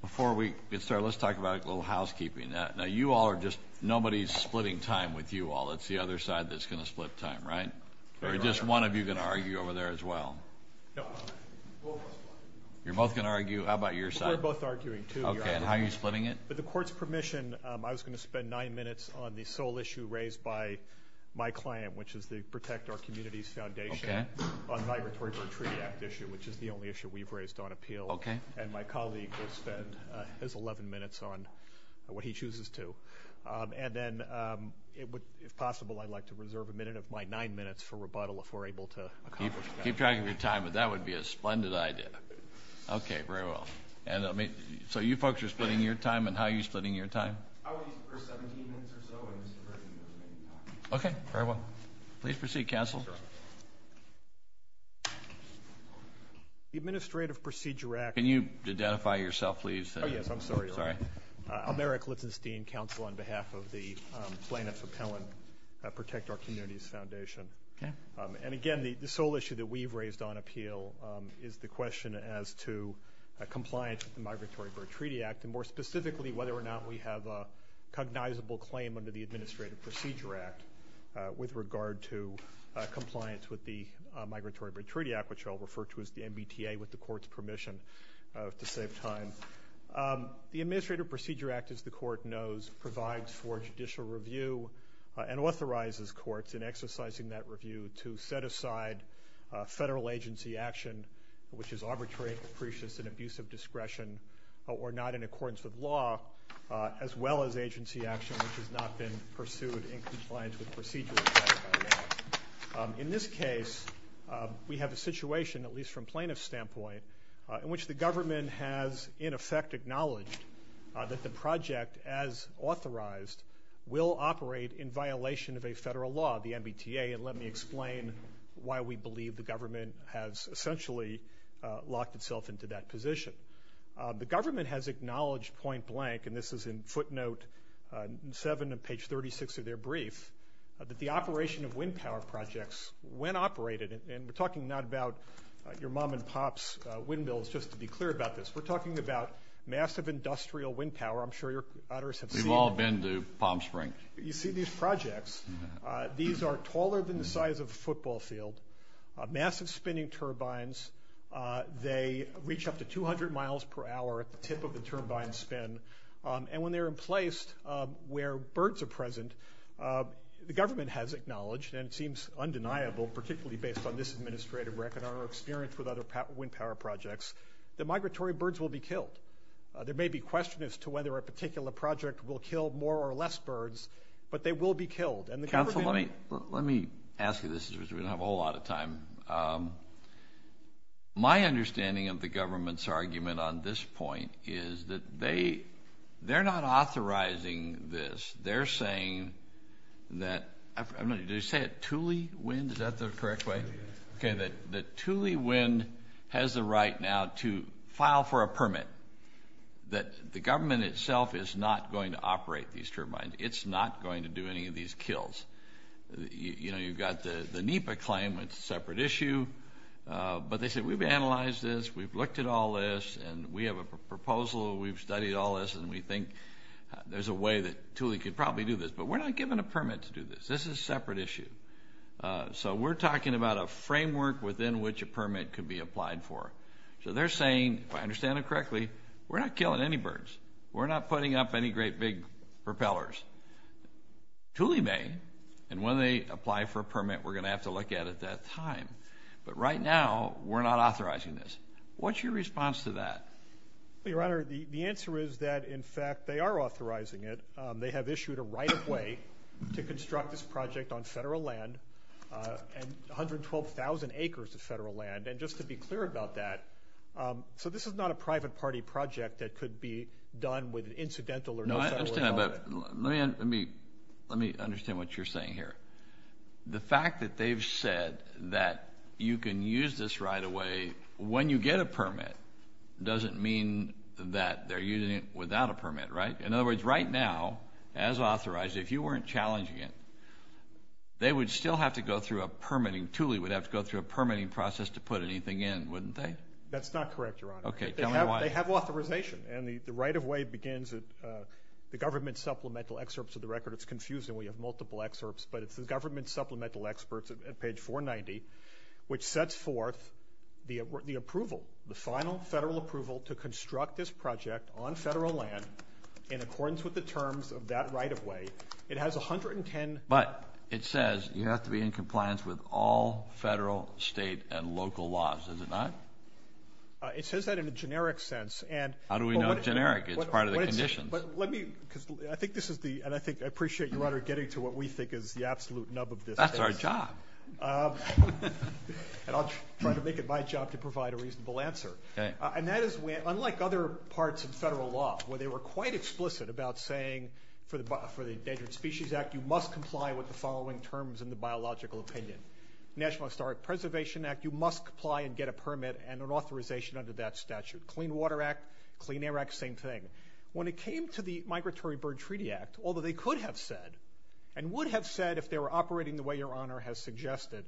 Before we get started, let's talk about a little housekeeping. Now you all are just, nobody's splitting time with you all. It's the other side that's gonna split time, right? Or just one of you gonna argue over there as well? You're both gonna argue? How about your side? We're both arguing too. Okay, and how are you splitting it? With the court's permission, I was going to spend nine minutes on the sole issue raised by my client, which is the Protect Our Communities Foundation on the Migratory Bird Treaty Act issue, which is the only issue we've raised on the repeal. Okay. And my colleague will spend his 11 minutes on what he chooses to. And then it would, if possible, I'd like to reserve a minute of my nine minutes for rebuttal if we're able to accomplish that. Keep track of your time, but that would be a splendid idea. Okay, very well. And I mean, so you folks are splitting your time, and how are you splitting your time? I would use the first 17 minutes or so. Okay, very well. Please proceed, counsel. The Administrative Procedure Act... Can you identify yourself, please? Oh yes, I'm sorry. Sorry. I'm Eric Lichtenstein, counsel on behalf of the plaintiff's appellant, Protect Our Communities Foundation. Okay. And again, the sole issue that we've raised on appeal is the question as to compliance with the Migratory Bird Treaty Act, and more specifically, whether or not we have a cognizable claim under the compliance with the Migratory Bird Treaty Act, which I'll refer to as the MBTA, with the court's permission, to save time. The Administrative Procedure Act, as the court knows, provides for judicial review and authorizes courts in exercising that review to set aside federal agency action, which is arbitrary, capricious, and abusive discretion, or not in accordance with law, as well as agency action which has not been pursued in compliance with procedure. In this case, we have a situation, at least from plaintiff's standpoint, in which the government has, in effect, acknowledged that the project, as authorized, will operate in violation of a federal law, the MBTA, and let me explain why we believe the government has essentially locked itself into that position. The government has acknowledged point-blank, and this is in footnote seven of page 36 of their brief, that the operation of wind power projects, when operated, and we're talking not about your mom and pop's windmills, just to be clear about this, we're talking about massive industrial wind power. I'm sure your others have seen it. We've all been to Palm Springs. You see these projects, these are taller than the size of a football field, massive spinning turbines, they reach up to 200 miles per hour at the tip of the turbine spin, and when they're in place, where birds are present, the government has acknowledged, and it seems undeniable, particularly based on this administrative record, our experience with other wind power projects, that migratory birds will be killed. There may be question as to whether a particular project will kill more or less birds, but they will be killed, and the government... Counsel, let me ask you this, because we don't have a whole lot of time, my understanding of the government's argument on this point is that they, they're not authorizing this. They're saying that, I don't know, did they say it, Thule Wind, is that the correct way? Okay, that Thule Wind has the right now to file for a permit, that the government itself is not going to operate these turbines, it's not going to do any of these kills. You know, you've got the NEPA claim, it's a separate issue, but they said we've analyzed this, we've looked at all this, and we have a process, and we think there's a way that Thule could probably do this, but we're not given a permit to do this. This is a separate issue. So we're talking about a framework within which a permit could be applied for. So they're saying, if I understand it correctly, we're not killing any birds. We're not putting up any great big propellers. Thule may, and when they apply for a permit, we're going to have to look at it at that time, but right now, we're not authorizing this. What's your response to that? Your Honor, the answer is that, in fact, they are authorizing it. They have issued a right-of-way to construct this project on federal land, and 112,000 acres of federal land, and just to be clear about that, so this is not a private party project that could be done with an incidental or no federal way. Let me understand what you're saying here. The fact that they've said that you can use this right away when you get a permit doesn't mean that they're using it without a permit, right? In other words, right now, as authorized, if you weren't challenging it, they would still have to go through a permitting. Thule would have to go through a permitting process to put anything in, wouldn't they? That's not correct, Your Honor. Okay, tell me why. They have authorization, and the right-of-way begins at the government supplemental excerpts of the record. It's confusing. We have multiple excerpts, but it's the government supplemental experts at page 490, which sets forth the approval, the final federal approval to construct this project on federal land in accordance with the terms of that right-of-way. It has a hundred and ten... But it says you have to be in compliance with all federal, state, and local laws, does it not? It says that in a generic sense, and... How do we know generic? It's part of the condition. But let me, because I think this is the, and I appreciate, Your Honor, getting to what we think is the absolute nub of this. That's our job. And I'll try to make it my job to provide a reasonable answer. And that is, unlike other parts of federal law, where they were quite explicit about saying, for the Endangered Species Act, you must comply with the following terms in the biological opinion. National Historic Preservation Act, you must comply and get a permit and an authorization under that statute. Clean Water Act, Clean Air Act, same thing. When it came to the Migratory Bird Treaty Act, although they could have said, and would have said, if they were operating the way Your Honor has suggested,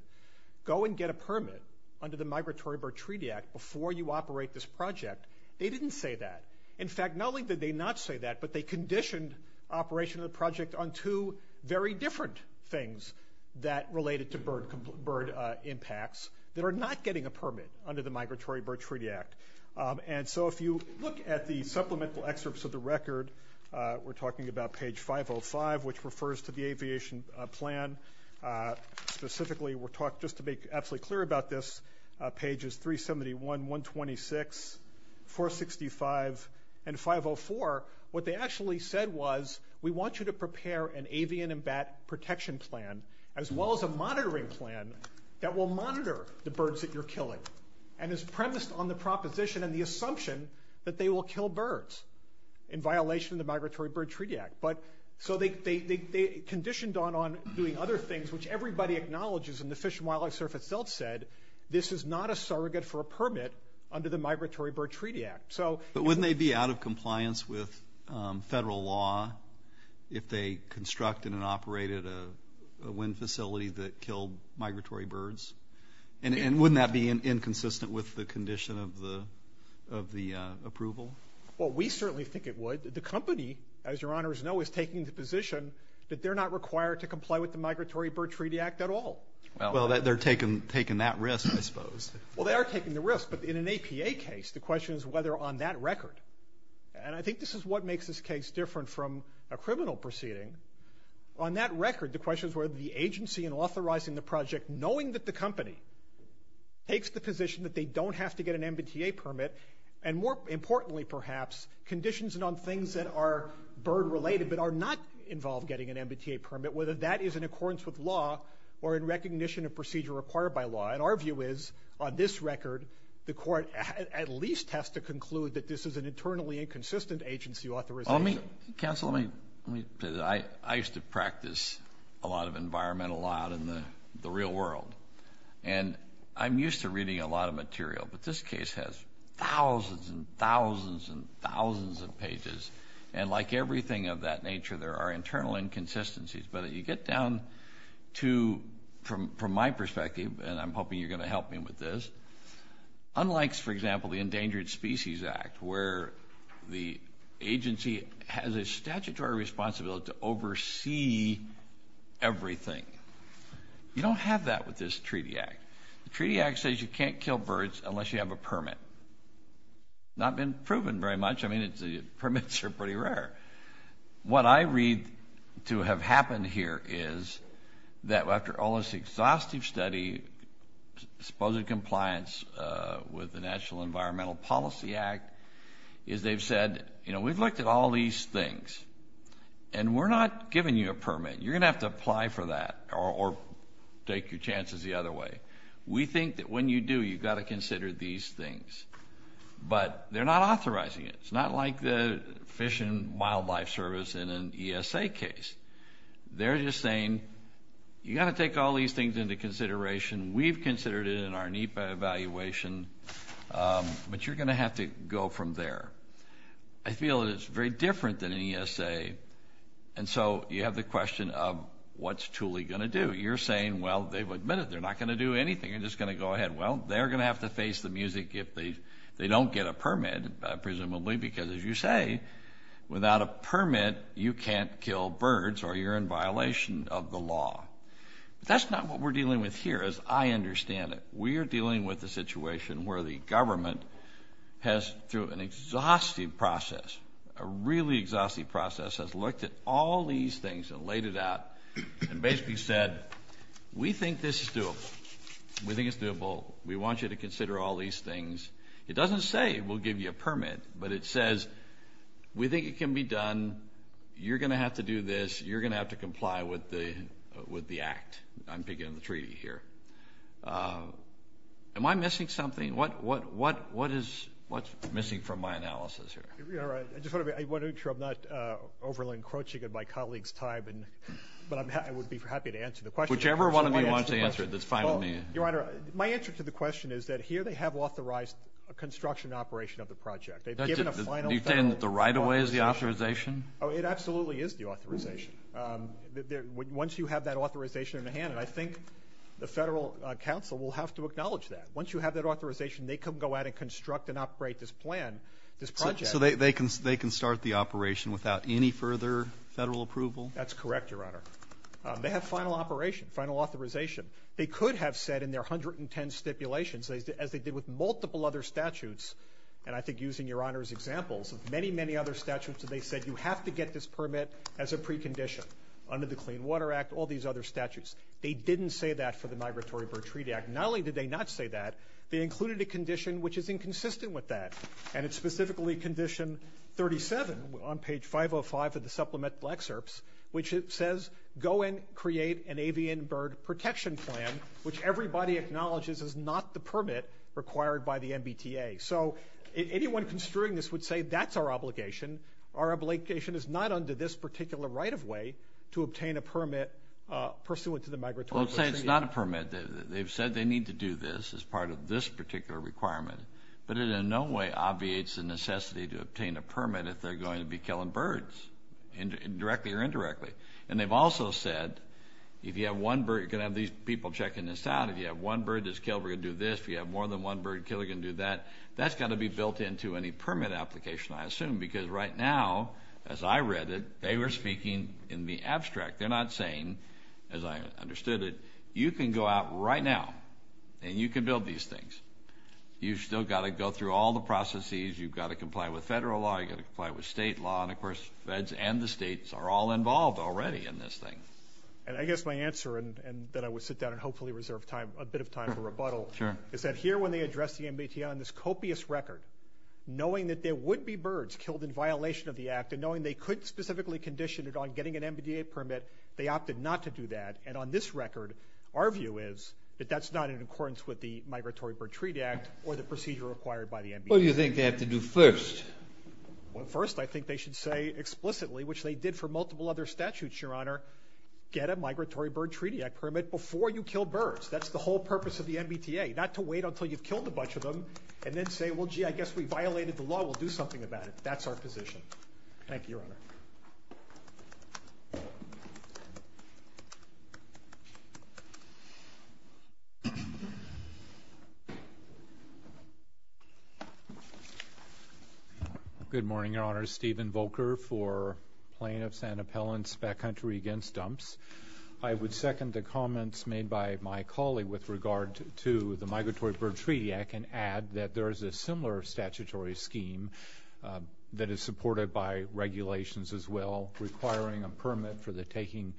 go and get a permit under the Migratory Bird Treaty Act before you operate this project, they didn't say that. In fact, not only did they not say that, but they conditioned operation of the project on two very different things that related to bird impacts that are not getting a permit under the Migratory Bird Treaty Act. And so if you look at the supplemental excerpts of the record, we're talking about page 505, which refers to the aviation plan. Specifically, we're talking, just to make absolutely clear about this, pages 371, 126, 465, and 504, what they actually said was, we want you to prepare an avian and bat protection plan, as well as a monitoring plan, that will monitor the birds that you're killing. And is that they will kill birds in violation of the Migratory Bird Treaty Act. But so they conditioned on doing other things, which everybody acknowledges, and the Fish and Wildlife Service itself said, this is not a surrogate for a permit under the Migratory Bird Treaty Act. So... But wouldn't they be out of compliance with federal law if they constructed and operated a wind facility that killed migratory birds? And wouldn't that be inconsistent with the condition of the approval? Well, we certainly think it would. The company, as your honors know, is taking the position that they're not required to comply with the Migratory Bird Treaty Act at all. Well, they're taking that risk, I suppose. Well, they are taking the risk. But in an APA case, the question is whether on that record, and I think this is what makes this case different from a criminal proceeding, on that record, the question is whether the agency in authorizing the position that they don't have to get an MBTA permit, and more importantly, perhaps, conditions on things that are bird-related but are not involved getting an MBTA permit, whether that is in accordance with law or in recognition of procedure required by law. And our view is, on this record, the court at least has to conclude that this is an internally inconsistent agency authorization. Let me, counsel, let me, let me say that I used to practice a lot of environmental law in the real world. And I'm used to reading a lot of material, but this case has thousands and thousands and thousands of pages. And like everything of that nature, there are internal inconsistencies. But you get down to, from my perspective, and I'm hoping you're going to help me with this, unlike, for example, the Endangered Species Act, where the agency has a statutory responsibility to you don't have that with this Treaty Act. The Treaty Act says you can't kill birds unless you have a permit. Not been proven very much. I mean, it's, the permits are pretty rare. What I read to have happened here is that after all this exhaustive study, supposed compliance with the National Environmental Policy Act, is they've said, you know, we've looked at all these things, and we're not going to take your chances the other way. We think that when you do, you've got to consider these things. But they're not authorizing it. It's not like the Fish and Wildlife Service in an ESA case. They're just saying, you've got to take all these things into consideration. We've considered it in our NEPA evaluation, but you're going to have to go from there. I feel that it's very different than an ESA. And so you have the question of what's Thule going to do? You're saying, well, they've admitted they're not going to do anything. They're just going to go ahead. Well, they're going to have to face the music if they don't get a permit, presumably, because as you say, without a permit you can't kill birds or you're in violation of the law. That's not what we're dealing with here, as I understand it. We are dealing with the situation where the government has, through an exhaustive process, has looked at all these things and laid it out and basically said, we think this is doable. We think it's doable. We want you to consider all these things. It doesn't say we'll give you a permit, but it says, we think it can be done. You're going to have to do this. You're going to have to comply with the Act. I'm picking up the treaty here. Am I missing something? What is missing from my analysis here? I just want to make sure I'm not overly encroaching on my colleague's time, but I would be happy to answer the question. Whichever one of you wants to answer it, that's fine with me. Your Honor, my answer to the question is that here they have authorized a construction operation of the project. You're saying that the right-of-way is the authorization? Oh, it absolutely is the authorization. Once you have that authorization in hand, and I think the Federal Council will have to acknowledge that. Once you have that authorization, they can go out and construct and operate this plan, this project. So they can start the operation without any further Federal approval? That's correct, Your Honor. They have final operation, final authorization. They could have said in their 110 stipulations, as they did with multiple other statutes, and I think using Your Honor's examples of many, many other statutes, that they said you have to get this permit as a precondition under the Clean Water Act, all these other statutes. They didn't say that for the Migratory Bird Treaty Act. Not only did they not say that, they included a condition which is inconsistent with that, and it's specifically condition 37 on page 505 of the Supplemental Excerpts, which it says, go and create an avian bird protection plan, which everybody acknowledges is not the permit required by the MBTA. So anyone construing this would say that's our obligation. Our obligation is not under this particular right-of-way to obtain a permit pursuant to the Migratory Bird Treaty Act. Well, it's not a permit. They've said they need to do this as part of this particular requirement, but it in no way obviates the necessity to obtain a permit if they're going to be killing birds, directly or indirectly. And they've also said, if you have one bird, you're going to have these people checking this out. If you have one bird that's killed, we're going to do this. If you have more than one bird killed, we're going to do that. That's got to be built into any permit application, I assume, because right now, as I read it, they were speaking in the abstract. They're not saying, as I understood it, you can go out right now and you can build these things. You've still got to go through all the processes. You've got to comply with federal law. You've got to comply with state law. And of course, feds and the states are all involved already in this thing. And I guess my answer, and that I would sit down and hopefully reserve time, a bit of time for rebuttal, is that here when they address the MBTA on this copious record, knowing that there would be birds killed in violation of the act, and knowing they could specifically condition it on getting an MBTA permit, they opted not to do that. And on this record, our view is that that's not in accordance with the Migratory Bird Treaty Act or the procedure required by the MBTA. What do you think they have to do first? Well, first, I think they should say explicitly, which they did for multiple other statutes, Your Honor, get a Migratory Bird Treaty Act permit before you kill birds. That's the whole purpose of the MBTA, not to wait until you've killed a bunch of them and then say, well, gee, I guess we violated the law. We'll do something about it. That's our position. Thank you, Your Honor. Good morning, Your Honor. Stephen Volker for Plaintiff's and Appellant's Backcountry Against Dumps. I would second the comments made by my colleague with regard to the Migratory Bird Treaty Act and add that there is a similar statutory scheme that is supported by regulations as well, requiring a permit for the taking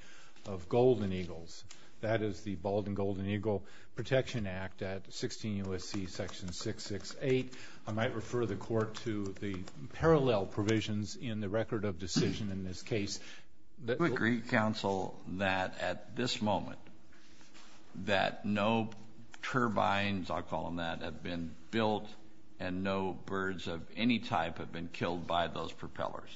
of golden eagles. That is the Bald and Golden Eagle Protection Act at 16 U.S.C. section 668. I might refer the Court to the parallel provisions in the record of decision in this case. Do you agree, Counsel, that at this moment, that no birds of any type have been killed by those propellers?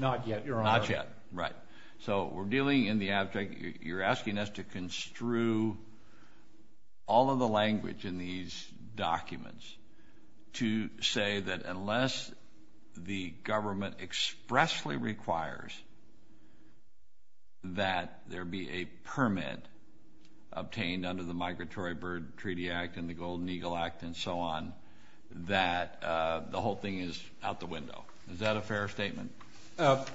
Not yet, Your Honor. Not yet, right. So we're dealing in the abject. You're asking us to construe all of the language in these documents to say that unless the government expressly requires that there be a permit obtained under the Migratory Bird Treaty Act and the Golden Eagle Act and so on, that the whole thing is out the window. Is that a fair statement?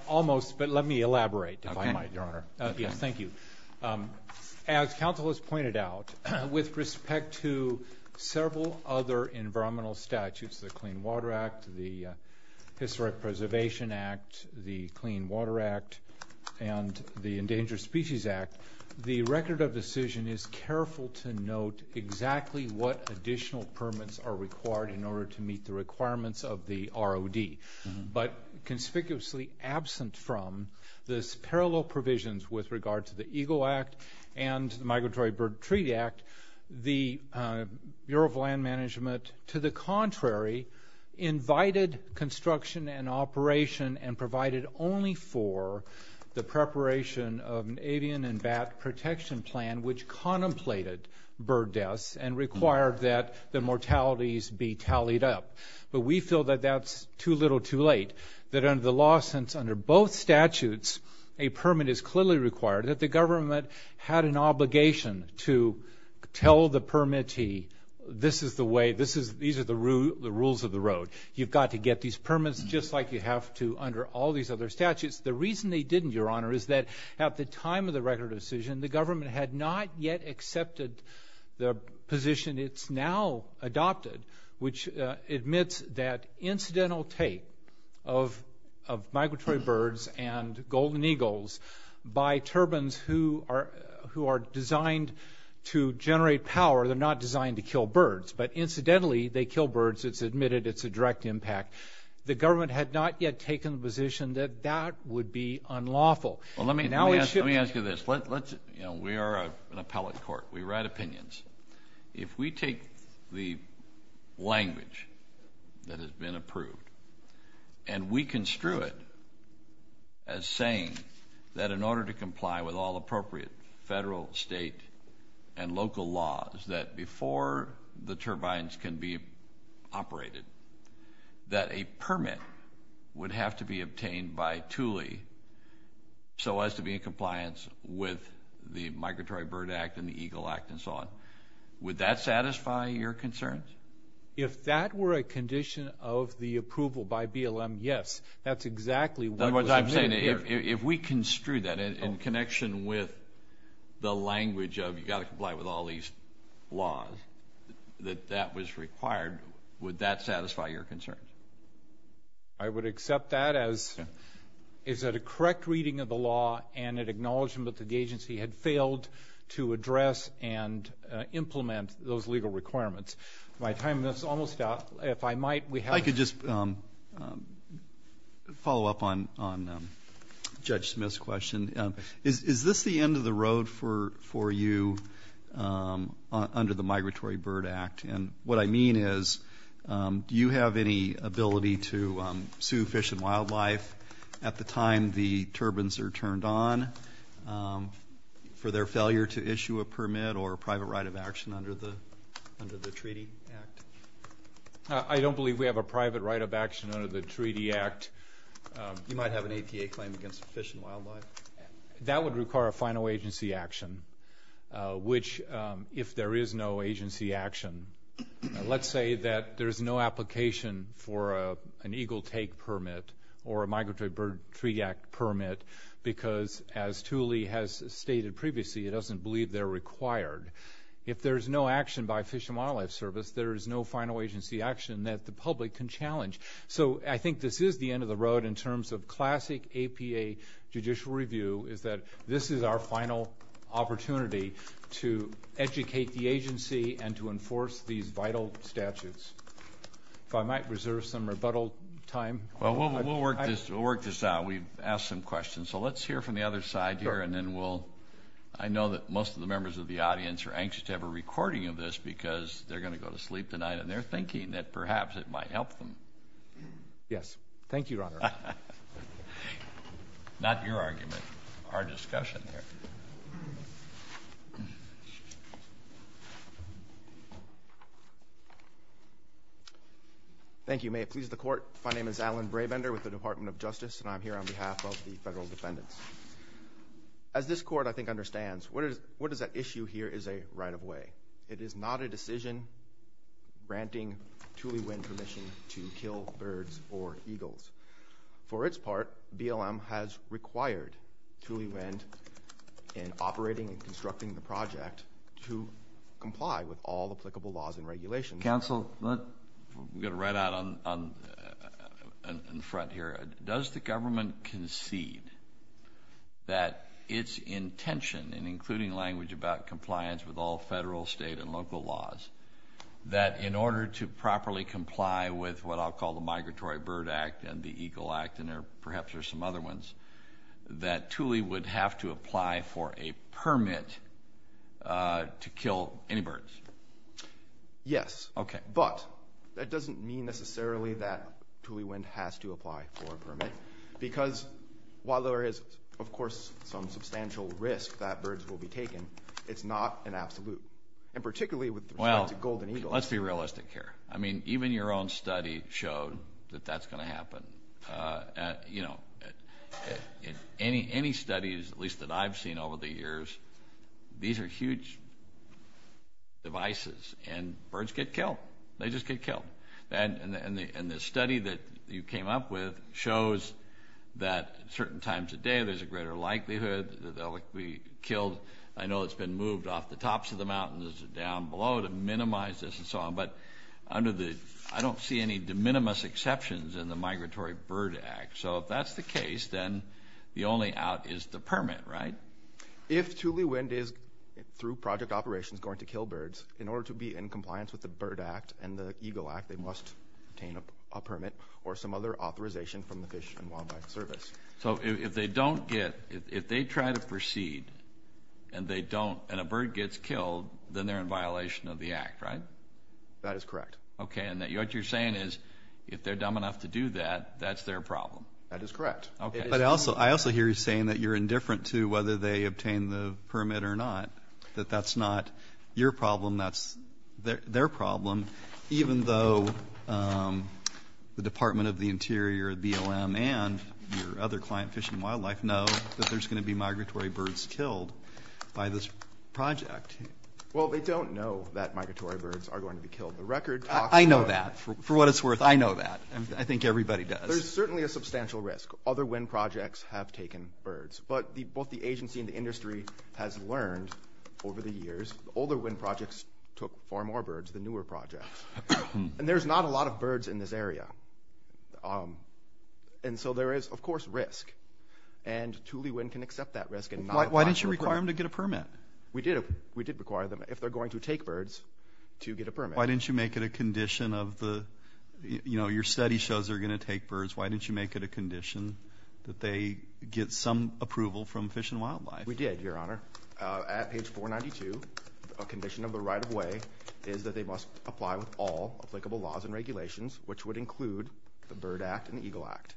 Almost, but let me elaborate, if I might, Your Honor. Yes, thank you. As counsel has pointed out, with respect to several other environmental statutes, the Clean Water Act, the Historic Preservation Act, the Clean Water Act, and the Endangered Species Act, the record of decision is careful to note exactly what additional permits are required in order to meet the requirements of the ROD. But conspicuously absent from this parallel provisions with regard to the Eagle Act and the Migratory Bird Treaty Act, the Bureau of Land Management, to the contrary, invited construction and operation and provided only for the preparation of an avian and bat protection plan which contemplated bird deaths and required that the mortalities be tallied up. But we feel that that's too little too late, that under the law, since under both statutes, a permit is clearly required, that the government had an obligation to tell the permittee, this is the way, these are the rules of the road. You've got to get these permits just like you have to under all these other statutes. The reason they didn't, Your Honor, is that at the time of the record of decision, the position it's now adopted, which admits that incidental take of migratory birds and golden eagles by turbans who are who are designed to generate power, they're not designed to kill birds, but incidentally they kill birds, it's admitted it's a direct impact. The government had not yet taken the position that that would be unlawful. Well let me ask you this, let's, you know, we are an appellate court, we write opinions. If we take the language that has been approved and we construe it as saying that in order to comply with all appropriate federal, state, and local laws, that before the turbines can be operated, that a permit would have to be obtained by Thule so as to be in compliance with the Migratory Bird Act and the Eagle Act and so on, would that satisfy your concerns? If that were a condition of the approval by BLM, yes, that's exactly what I'm saying. If we construe that in connection with the language of you got to comply with all these laws, that that was required, would that satisfy your concerns? I would accept that as, is that a correct reading of the law and it acknowledged that the agency had failed to address and implement those legal requirements. My time is almost up, if I might, we have... I could just follow up on Judge Smith's question. Is this the end of the road for you under the Migratory Bird Act? And what I mean is, do you have any concerns that the turbines are turned on for their failure to issue a permit or a private right of action under the Treaty Act? I don't believe we have a private right of action under the Treaty Act. You might have an APA claim against fish and wildlife. That would require a final agency action, which, if there is no agency action, let's say that there's no application for an Eagle take permit or a Migratory Bird Treaty Act permit, because as Tooley has stated previously, it doesn't believe they're required. If there's no action by Fish and Wildlife Service, there is no final agency action that the public can challenge. So I think this is the end of the road in terms of classic APA judicial review, is that this is our final opportunity to educate the agency and to enforce these vital statutes. If I might reserve some rebuttal time. Well, we'll work this out. We've asked some questions, so let's hear from the other side here, and then we'll... I know that most of the members of the audience are anxious to have a recording of this, because they're going to go to sleep tonight, and they're thinking that perhaps it might help them. Yes. Thank you, Your Honor. Not your argument, our discussion here. Thank you. May it please the Court, my name is Alan Brabender with the Department of Justice, and I'm here on behalf of the federal defendants. As this Court, I think, understands, what is that issue here is a right-of-way. It is not a decision granting Tooley Wind permission to kill birds or eagles. For its part, BLM has required Tooley Wind in operating and constructing the project to comply with all applicable laws and regulations. Counsel, I'm going to write out on the front here. Does the government concede that its intention in including language about compliance with all federal, state, and local laws, that in order to properly comply with what I'll call the Migratory Bird Act and the Eagle Act, and there perhaps are some other ones, that Tooley would have to to kill any birds? Yes. Okay. But that doesn't mean necessarily that Tooley Wind has to apply for a permit, because while there is, of course, some substantial risk that birds will be taken, it's not an absolute, and particularly with the Golden Eagle. Well, let's be realistic here. I mean, even your own study showed that that's going to happen. You know, in any studies, at least I've seen over the years, these are huge devices, and birds get killed. They just get killed. And the study that you came up with shows that certain times a day, there's a greater likelihood that they'll be killed. I know it's been moved off the tops of the mountains and down below to minimize this and so on, but I don't see any de minimis exceptions in the Migratory Bird Act. So if that's the case, then the only out is the permit, right? If Tooley Wind is, through project operations, going to kill birds, in order to be in compliance with the Bird Act and the Eagle Act, they must obtain a permit or some other authorization from the Fish and Wildlife Service. So if they don't get, if they try to proceed and they don't, and a bird gets killed, then they're in violation of the Act, right? That is correct. Okay, and what you're saying is, if they're dumb enough to do that, that's their problem. That is correct. Okay. But I also, I also hear you saying that you're indifferent to whether they obtain the permit or not, that that's not your problem, that's their problem, even though the Department of the Interior, BLM, and your other client, Fish and Wildlife, know that there's going to be migratory birds killed by this project. Well, they don't know that migratory birds are going to be killed. The record talks about that. I know that. For what it's worth, I know that. I think everybody does. There's certainly a substantial risk. Other wind projects have taken birds, but both the agency and the industry has learned over the years. Older wind projects took far more birds than newer projects, and there's not a lot of birds in this area. And so there is, of course, risk, and Thule Wind can accept that risk and not apply for a permit. Why didn't you require them to get a permit? We did, we did require them, if they're going to take birds, to get a permit. Why didn't you make it a condition of the, you know, your study shows they're going to take birds. Why didn't you make it a condition that they get some approval from Fish and Wildlife? We did, Your Honor. At page 492, a condition of the right-of-way is that they must apply with all applicable laws and regulations, which would include the Bird Act and Eagle Act.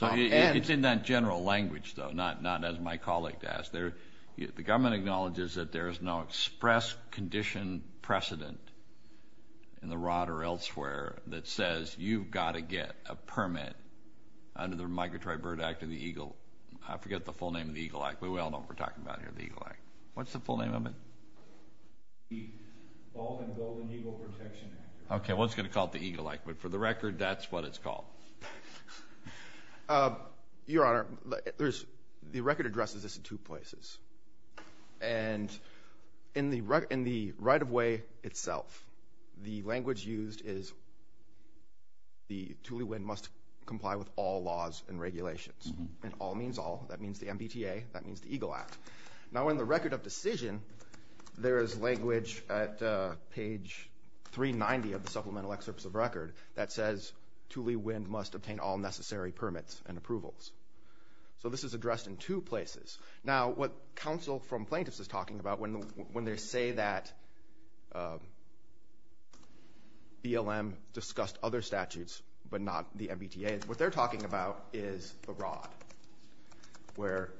It's in that general language, though, not as my colleague asked. The government acknowledges that there is no express condition precedent in the rod or elsewhere that says you've got to get a permit under the Migratory Bird Act or the Eagle, I forget the full name of the Eagle Act, but we all know what we're talking about here, the Eagle Act. What's the full name of it? Okay, one's going to call it the Eagle Act, but for the record, that's what it's called. Your Honor, there's, the record addresses this in two places, and in the right-of-way itself, the language used is the Thule Wind must comply with all laws and regulations, and all means all. That means the MBTA, that means the Eagle Act. Now in the record of decision, there is language at page 390 of the must obtain all necessary permits and approvals. So this is addressed in two places. Now what counsel from plaintiffs is talking about when they say that BLM discussed other statutes but not the MBTA, what they're talking about is the rod, where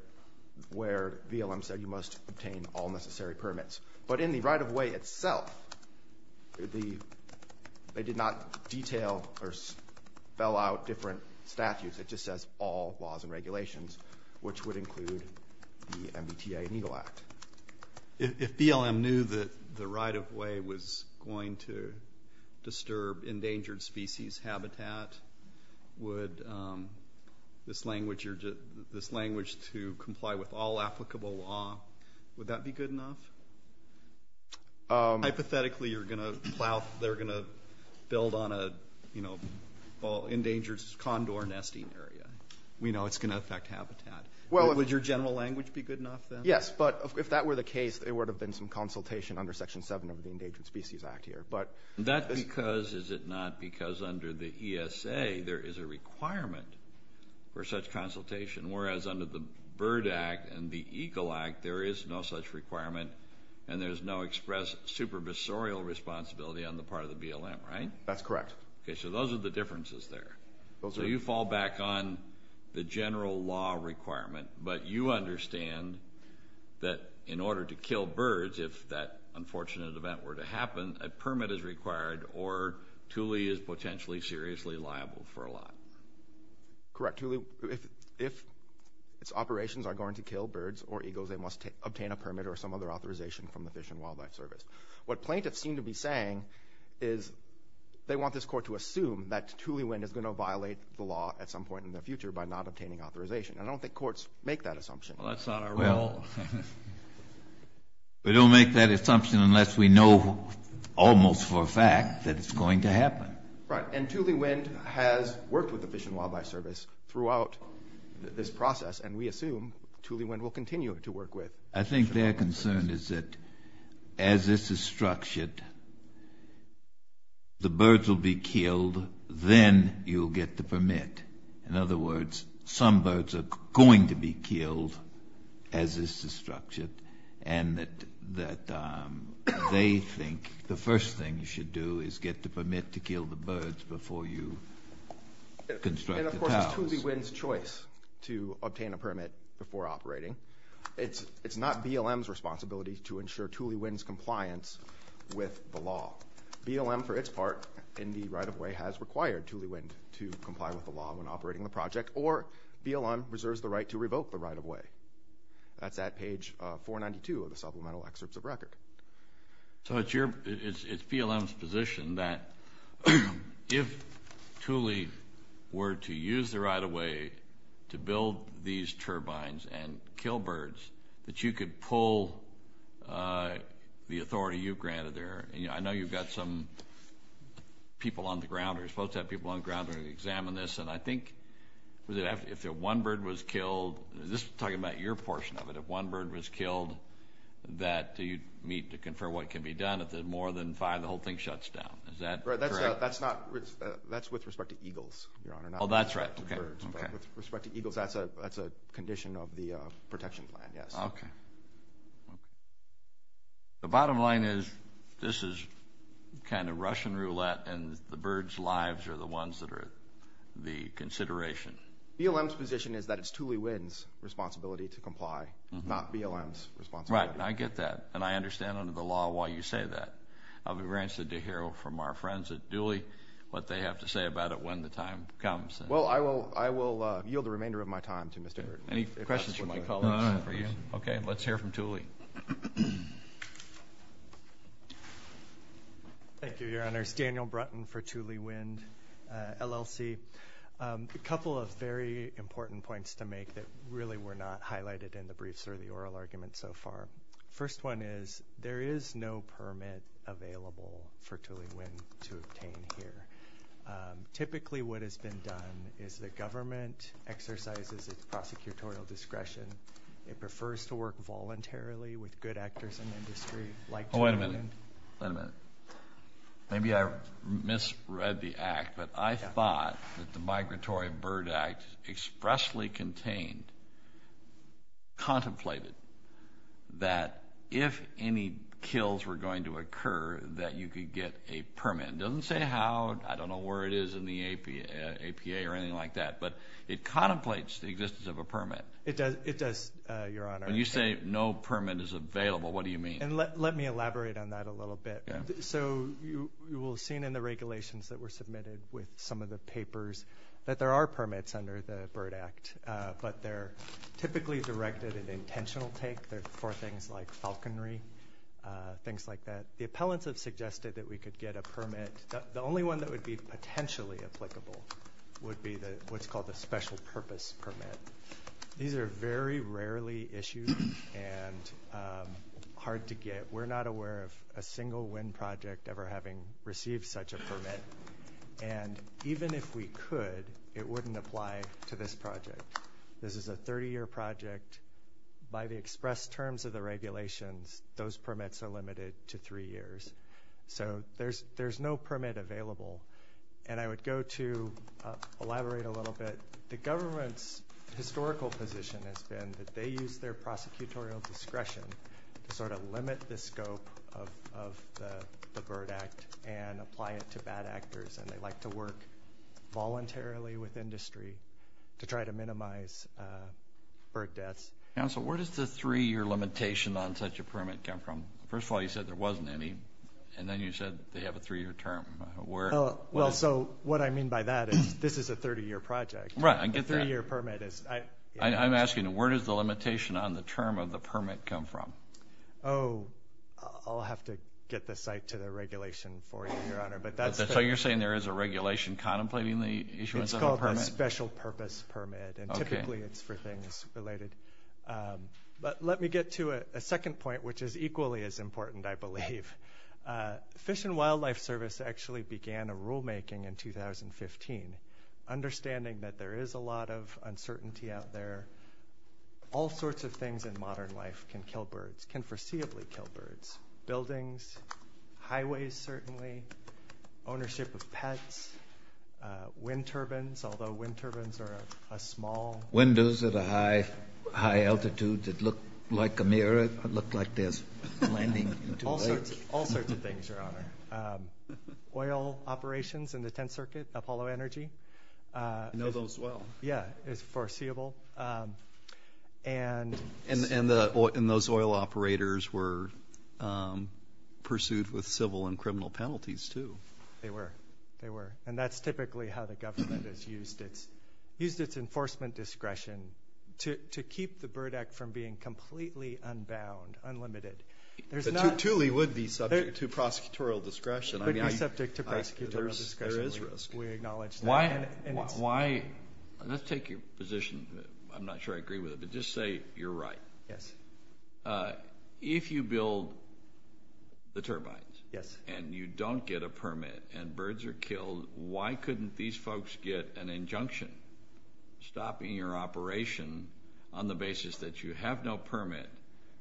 BLM said you must obtain all necessary permits. But in the right-of-way itself, they did not detail or spell out different statutes, it just says all laws and regulations, which would include the MBTA and Eagle Act. If BLM knew that the right-of-way was going to disturb endangered species habitat, would this language to comply with all laws? Hypothetically, you're going to plow, they're going to build on a, you know, well, endangered condor nesting area. We know it's going to affect habitat. Well, would your general language be good enough then? Yes, but if that were the case, there would have been some consultation under Section 7 of the Endangered Species Act here, but... That's because, is it not, because under the ESA there is a requirement for such consultation, whereas under the Bird Act and the Eagle Act, there is no such requirement and there's no express supervisorial responsibility on the part of the BLM, right? That's correct. Okay, so those are the differences there. So you fall back on the general law requirement, but you understand that in order to kill birds, if that unfortunate event were to happen, a permit is required or Thule is potentially seriously liable for a lot. Correct. Thule, if its operations are going to kill birds or eagles, they must obtain a permit or some other authorization from the Fish and Wildlife Service. What plaintiffs seem to be saying is they want this court to assume that Thule wind is going to violate the law at some point in the future by not obtaining authorization. I don't think courts make that assumption. Well, that's not our role. We don't make that assumption unless we know almost for a fact that it's going to happen. Right, and Thule Wind has worked with the Fish and Wildlife Service throughout this process and we assume Thule Wind will continue to work with. I think their concern is that as this is structured, the birds will be killed, then you'll get the permit. In other words, some birds are going to be killed as this is structured and that they think the first thing you should do is get the permit to kill the birds before you construct the towers. And of course, it's Thule Wind's choice to obtain a permit before operating. It's not BLM's responsibility to ensure Thule Wind's compliance with the law. BLM, for its part, in the right-of-way has required Thule Wind to comply with the law when operating the project or BLM reserves the right to revoke the right-of-way. That's at page 492 of the supplemental excerpts of record. So it's BLM's position that if Thule were to use the right-of-way to build these turbines and kill birds, that you could pull the authority you've granted there. I know you've got some people on the ground, or you're supposed to have people on the ground to examine this, and I think if one bird was killed, this is talking about your portion of it, if one bird was killed, that you'd meet to confer what can be done. If there's more than five, the whole thing shuts down. Is that correct? That's with respect to eagles, Your Honor. Oh, that's right. With respect to eagles, that's a condition of the protection plan, yes. Okay. The bottom line is, this is kind of Russian roulette, and the birds' lives are the ones that are the consideration. BLM's position is that it's Thule Wynne's responsibility to comply, not BLM's responsibility. Right, I get that, and I understand under the law why you say that. I'll be very interested to hear from our friends at Thule what they have to say about it when the time comes. Well, I will yield the remainder of my time to Mr. Wynne. Any questions you might call on for you? Okay, let's hear from Thule. Thank you, Your Honor. It's Daniel Brunton for Thule Wynne, LLC. A couple of very important points to make that really were not highlighted in the briefs or the oral argument so far. First one is, there is no permit available for Thule Wynne to obtain here. Typically, what has been done is the government exercises its prosecutorial discretion. It prefers to work voluntarily with good actors in the industry like Thule Wynne. Wait a minute. Maybe I misread the act, but I thought that the Migratory Bird Act expressly contained, contemplated, that if any kills were going to occur, that you could get a permit. It doesn't say how, I don't know where it is in the APA or anything like that, but it contemplates the existence of a permit. It does, it does, Your Honor. When you say no permit is available, what do you mean? And let me elaborate on that a little bit. So you will have seen in the regulations that were submitted with some of the papers that there are permits under the Bird Act, but they're typically directed at intentional take for things like falconry, things like that. The appellants have suggested that we could get a permit. The only one that would be potentially applicable would be the, what's called a special purpose permit. These are very rarely issued and hard to get. We're not aware of a single Wynne project ever having received such a permit. And even if we could, it wouldn't apply to this project. This is a 30-year project. By the express terms of the regulations, those permits are limited to three years. So there's, there's no permit available. And I would go to elaborate a little bit. The government's historical position has been that they use their prosecutorial discretion to sort of limit the scope of the Bird Act and apply it to bad actors. And they like to work voluntarily with industry to try to minimize bird deaths. Counsel, where does the three-year limitation on such a permit come from? First of all, you said there wasn't any. And then you said they have a three-year term. Where? Well, so what I mean by that is this is a 30-year project. Right, I get that. A three-year permit is... I'm asking, where does the limitation on the term of the permit come from? Oh, I'll have to get the site to the regulation for you, Your Honor. But that's... So you're saying there is a regulation contemplating the issuance of a permit? It's called a special purpose permit. Okay. And typically it's for things related. But let me get to a second point, which is equally as important, I believe. Fish and Wildlife Service actually began a rulemaking in 2015, understanding that there is a lot of uncertainty out there. All sorts of things in modern life can kill birds, can foreseeably kill birds. Buildings, highways certainly, ownership of pets, wind turbines, although wind turbines are a small... Windows at a high altitude that look like a mirror, look like there's landing into a lake. All sorts of things, Your Honor. Oil operations in the And those oil operators were pursued with civil and criminal penalties, too. They were. They were. And that's typically how the government has used its enforcement discretion to keep the bird act from being completely unbound, unlimited. There's not... But Thule would be subject to prosecutorial discretion. It would be subject to prosecutorial discretion. There is risk. We acknowledge that. Let's take your position. I'm not sure I agree with it, but just say you're right. Yes. If you build the turbines and you don't get a permit and birds are killed, why couldn't these folks get an injunction stopping your operation on the basis that you have no permit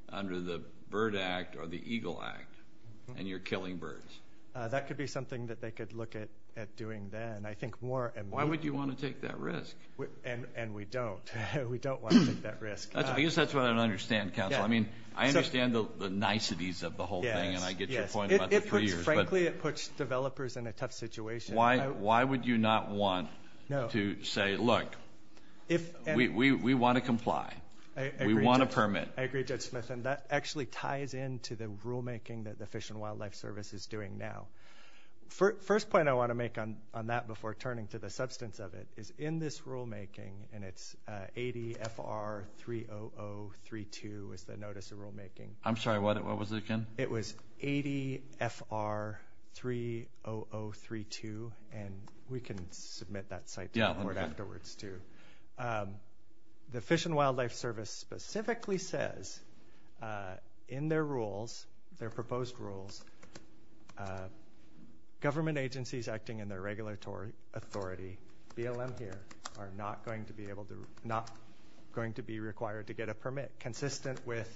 under the Bird Act or the Eagle Act and you're killing birds? That could be something that they could look at doing then. I think more... Why would you want to take that risk? And we don't. We don't want to take that risk. I guess that's what I don't understand, counsel. I mean, I understand the niceties of the whole thing, and I get your point about the three years, but... Frankly, it puts developers in a tough situation. Why would you not want to say, look, we want to comply. We want a permit. I agree, Judge Smith, and that actually ties into the rulemaking that the Fish and Wildlife Service is doing now. First point I want to make on that before turning to the substance of it is in this rulemaking, and it's ADFR-30032 is the notice of rulemaking. I'm sorry. What was it again? It was ADFR-30032, and we can submit that site report afterwards, too. The Fish and Wildlife Service specifically says in their rules, their proposed rules, government agencies acting in their regulatory authority, BLM here, are not going to be able to... not going to be required to get a permit consistent with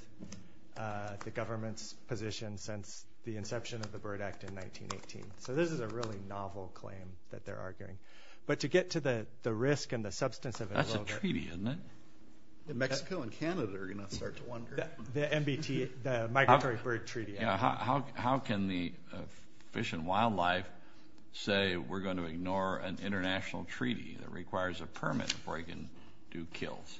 the government's position since the inception of the Bird Act in 1918. So this is a really novel claim that they're arguing. But to get to the risk and the substance of it a little bit... That's a treaty, isn't it? Mexico and Canada are going to start to wonder. The MBT, the Migratory Bird Treaty. How can the Fish and Wildlife say we're going to ignore an international treaty that requires a permit before you can do kills?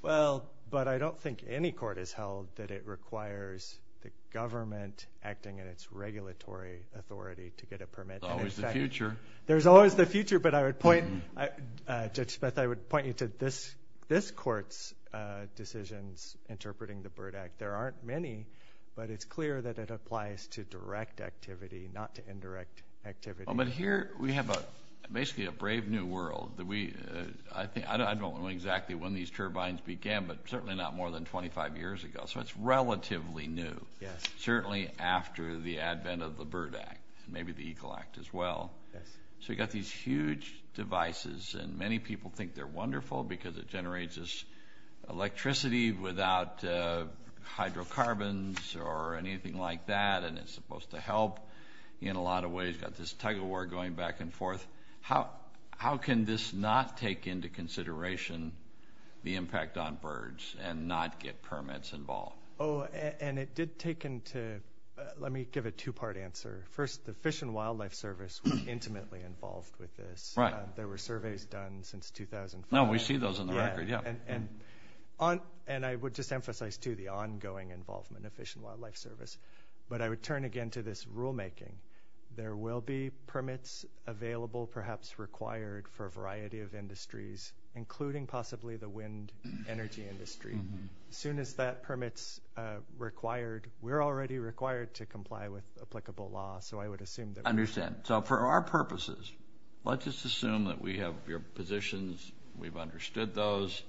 Well, but I don't think any court has held that it requires the government acting in its regulatory authority to get a permit. There's always the future. There's always the future, but I would point... Judge Smith, I would point you to this court's decisions interpreting the Bird Act. There aren't many, but it's clear that it applies to direct activity, not to indirect activity. But here we have basically a brave new world. I don't know exactly when these turbines began, but certainly not more than 25 years ago. So it's relatively new, certainly after the advent of the Bird Act, and maybe the Eagle Act as well. So you've got these huge devices, and many people think they're wonderful because it generates electricity without hydrocarbons or anything like that, and it's supposed to help in a lot of ways. You've got this tug-of-war going back and forth. How can this not take into consideration the impact on birds and not get permits involved? Oh, and it did take into... Let me give a two-part answer. First, the Fish and Wildlife Service was intimately involved with this. There were surveys done since 2004. No, we see those in the record, yeah. And I would just emphasize, too, the ongoing involvement of Fish and Wildlife Service. But I would turn again to this rulemaking. There will be permits available, perhaps required, for a variety of industries, including possibly the wind energy industry. As soon as that permit's required, we're already required to comply with applicable law, so I would assume that we would. I understand. So for our purposes, let's just assume that we have your positions, we've understood those,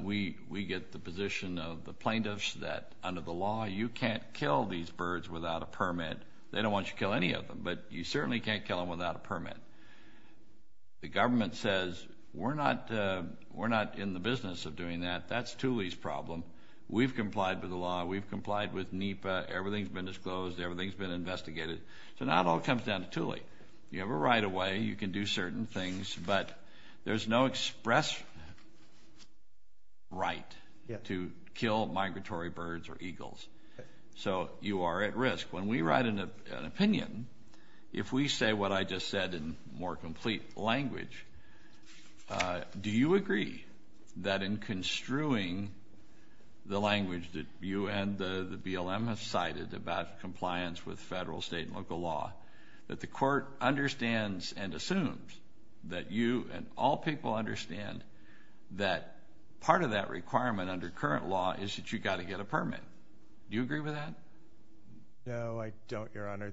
we get the position of the plaintiffs that, under the law, you can't kill these birds without a permit. They don't want you to kill any of them, but you certainly can't kill them without a permit. The government says, we're not in the business of doing that. That's Thule's problem. We've complied with the law. We've complied with NEPA. Everything's been disclosed. Everything's been investigated. So now it all comes down to Thule. You have a right of way. You can do certain things, but there's no express right to kill migratory birds or eagles. So you are at risk. When we write an opinion, if we say what I just said in more complete language, do you agree that in construing the language that you and the BLM have cited about compliance with federal, state, and local law, that the court understands and assumes that you and all people understand that part of that requirement under current law is that you've got to get a permit? Do you agree with that? No, I don't, Your Honor.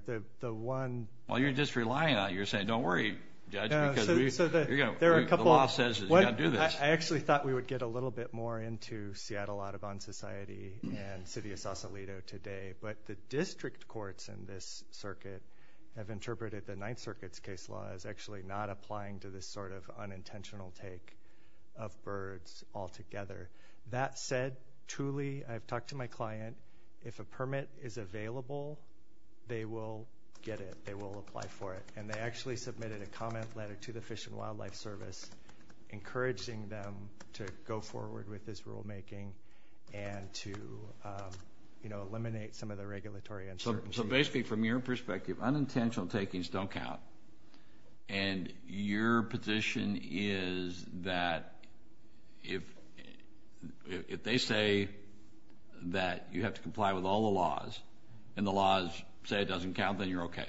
Well, you're just relying on it. You're saying, don't worry, Judge, because the law says you've got to do this. I actually thought we would get a little bit more into Seattle Audubon Society and the city of Sausalito today, but the district courts in this circuit have interpreted the Ninth Circuit's case law as actually not applying to this sort of unintentional take of birds altogether. That said, truly, I've talked to my client. If a permit is available, they will get it. They will apply for it. And they actually submitted a comment letter to the Fish and Wildlife Service encouraging them to go forward with this rulemaking and to eliminate some of the regulatory uncertainties. So basically, from your perspective, unintentional takings don't count. And your position is that if they say that you have to comply with all the laws and the laws say it doesn't count, then you're okay.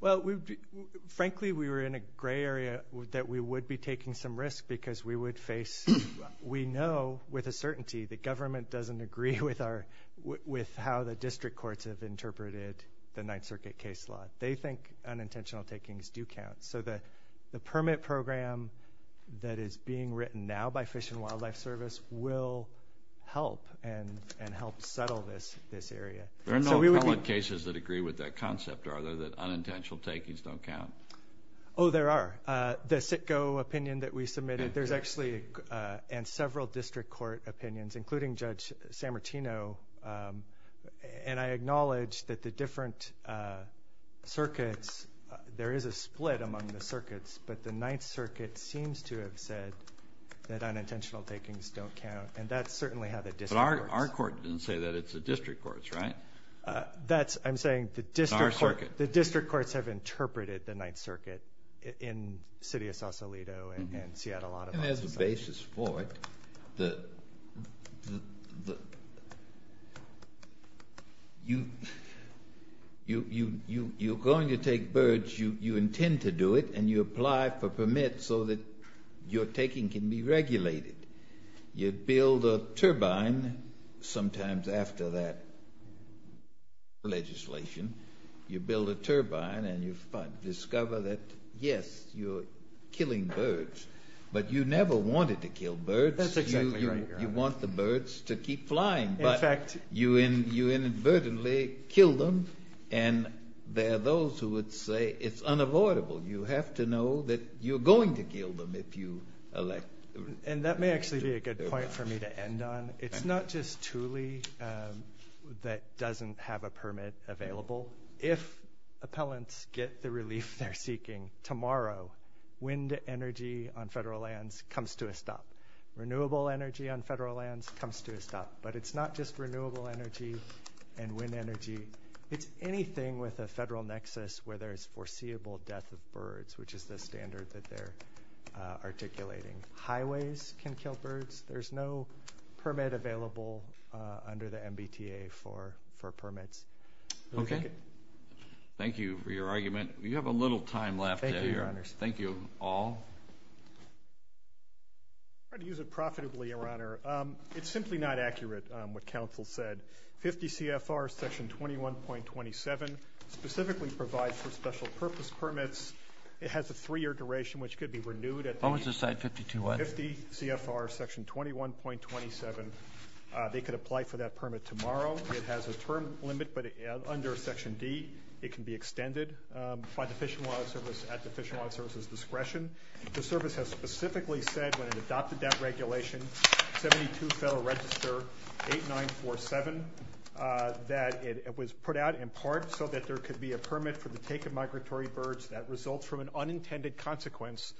Well, frankly, we were in a gray area that we would be taking some risk because we would face we know with a certainty the government doesn't agree with how the district courts have interpreted the Ninth Circuit case law. They think unintentional takings do count. So the permit program that is being written now by Fish and Wildlife Service will help and help settle this area. There are no appellate cases that agree with that concept, are there, that unintentional takings don't count? Oh, there are. The CITGO opinion that we submitted, there's actually several district court opinions, including Judge Sammartino. And I acknowledge that the different circuits, there is a split among the circuits, but the Ninth Circuit seems to have said that unintentional takings don't count, and that's certainly how the district courts. But our court didn't say that. It's the district courts, right? That's, I'm saying the district courts have interpreted the Ninth Circuit in the city of Sausalito and Seattle, Ottawa. I mean, there's a basis for it. You're going to take birds, you intend to do it, and you apply for permits so that your taking can be regulated. You build a turbine, sometimes after that legislation, you build a turbine and you discover that, yes, you're killing birds, but you never wanted to kill birds. That's exactly right, Your Honor. You want the birds to keep flying, but you inadvertently kill them, and there are those who would say it's unavoidable. You have to know that you're going to kill them if you elect. And that may actually be a good point for me to end on. It's not just Thule that doesn't have a permit available. If appellants get the relief they're seeking tomorrow, wind energy on federal lands comes to a stop. Renewable energy on federal lands comes to a stop. But it's not just renewable energy and wind energy. It's anything with a federal nexus where there's foreseeable death of birds, which is the standard that they're articulating. Highways can kill birds. There's no permit available under the MBTA for permits. Okay. Thank you for your argument. You have a little time left here. Thank you, Your Honor. Thank you all. I'm going to use it profitably, Your Honor. It's simply not accurate what counsel said. 50 CFR section 21.27 specifically provides for special purpose permits. It has a three-year duration, which could be renewed at the 50 CFR section 21.27. They could apply for that permit tomorrow. It has a term limit, but under section D it can be extended. By the Fish and Wildlife Service at the Fish and Wildlife Service's discretion. The service has specifically said when it adopted that regulation, 72 Federal Register 8947, that it was put out in part so that there could be a permit for the take of migratory birds that results from an unintended consequence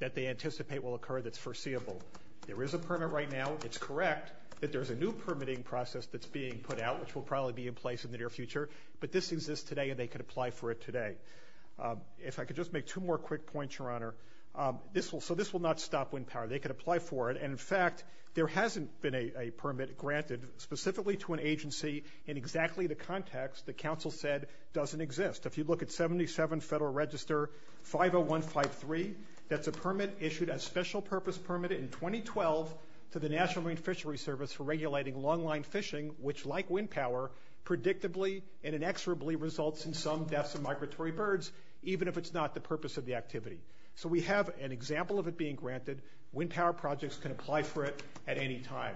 that they anticipate will occur that's foreseeable. There is a permit right now. It's correct that there's a new permitting process that's being put out, which will probably be in place in the near future. But this exists today, and they could apply for it today. If I could just make two more quick points, Your Honor. So this will not stop wind power. They could apply for it. And, in fact, there hasn't been a permit granted specifically to an agency in exactly the context that counsel said doesn't exist. If you look at 77 Federal Register 50153, that's a permit issued as special purpose permit in 2012 to the National Marine Fishery Service for regulating long-line fishing, which, like wind power, predictably and inexorably results in some deaths of migratory birds, even if it's not the purpose of the activity. So we have an example of it being granted. Wind power projects can apply for it at any time.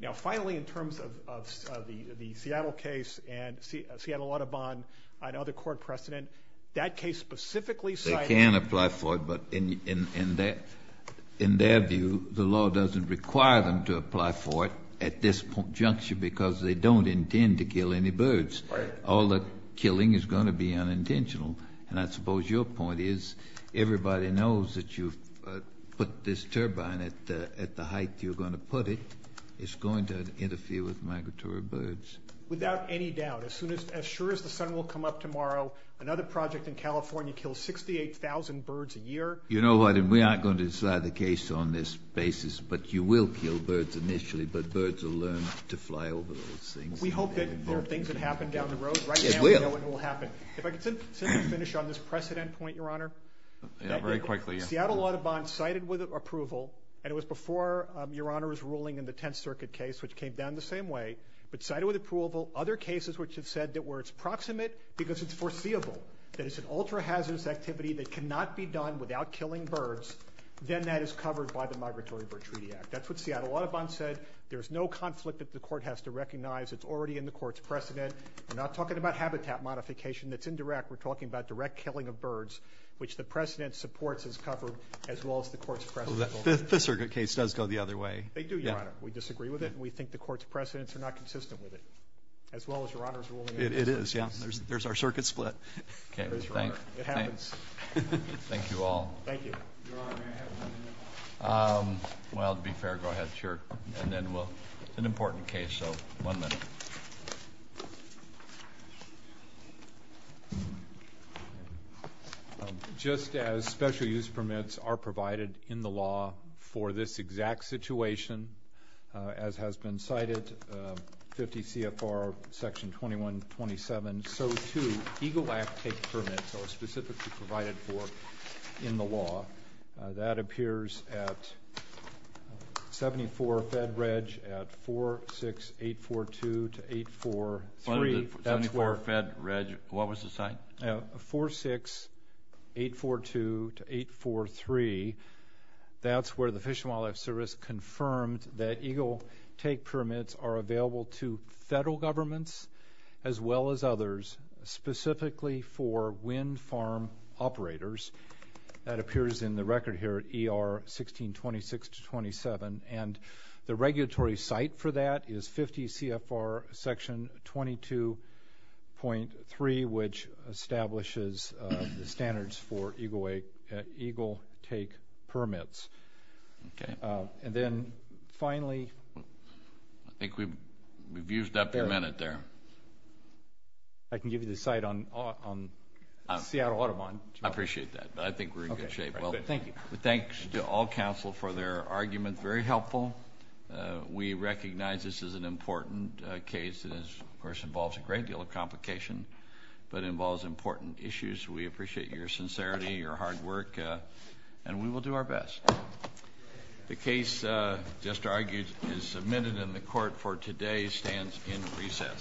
Now, finally, in terms of the Seattle case and Seattle Audubon and other court precedent, that case specifically cited They can apply for it, but in their view, the law doesn't require them to apply for it at this juncture because they don't intend to kill any birds. Right. All the killing is going to be unintentional. And I suppose your point is everybody knows that you put this turbine at the height you're going to put it. It's going to interfere with migratory birds. Without any doubt, as soon as the sun will come up tomorrow, another project in California kills 68,000 birds a year. You know what? And we aren't going to decide the case on this basis, but you will kill birds initially, but birds will learn to fly over those things. We hope that there are things that happen down the road. Right now we know what will happen. If I could simply finish on this precedent point, Your Honor. Yeah, very quickly. Seattle Audubon cited with approval, and it was before Your Honor was ruling in the Tenth Circuit case, which came down the same way, but cited with approval other cases which have said that where it's proximate because it's foreseeable, that it's an ultra-hazardous activity that cannot be done without killing birds, then that is covered by the Migratory Bird Treaty Act. That's what Seattle Audubon said. There's no conflict that the court has to recognize. It's already in the court's precedent. We're not talking about habitat modification that's indirect. We're talking about direct killing of birds, which the precedent supports as covered, as well as the court's precedent. The Fifth Circuit case does go the other way. They do, Your Honor. We disagree with it, and we think the court's precedents are not consistent with it, as well as Your Honor's ruling. It is. There's our circuit split. It happens. Thank you all. Thank you. Your Honor, may I have one minute? Well, to be fair, go ahead. Sure. It's an important case, so one minute. Just as special use permits are provided in the law for this exact situation, as has been cited, 50 CFR Section 2127, so too EGLE Act take permits are specifically provided for in the law. That appears at 74 Fed Reg at 46842 to 843. 74 Fed Reg. What was the site? 46842 to 843. That's where the Fish and Wildlife Service confirmed that EGLE take permits are available to federal governments as well as others specifically for wind farm operators. That appears in the record here at ER 1626 to 27, and the regulatory site for that is 50 CFR Section 22.3, which establishes the standards for EGLE take permits. Okay. And then finally. I think we've used up your minute there. I can give you the site on Seattle Audubon. I appreciate that, but I think we're in good shape. Thank you. Thanks to all counsel for their argument. Very helpful. We recognize this is an important case. It, of course, involves a great deal of complication, but it involves important issues. We appreciate your sincerity, your hard work, and we will do our best. The case just argued and submitted in the court for today stands in recess.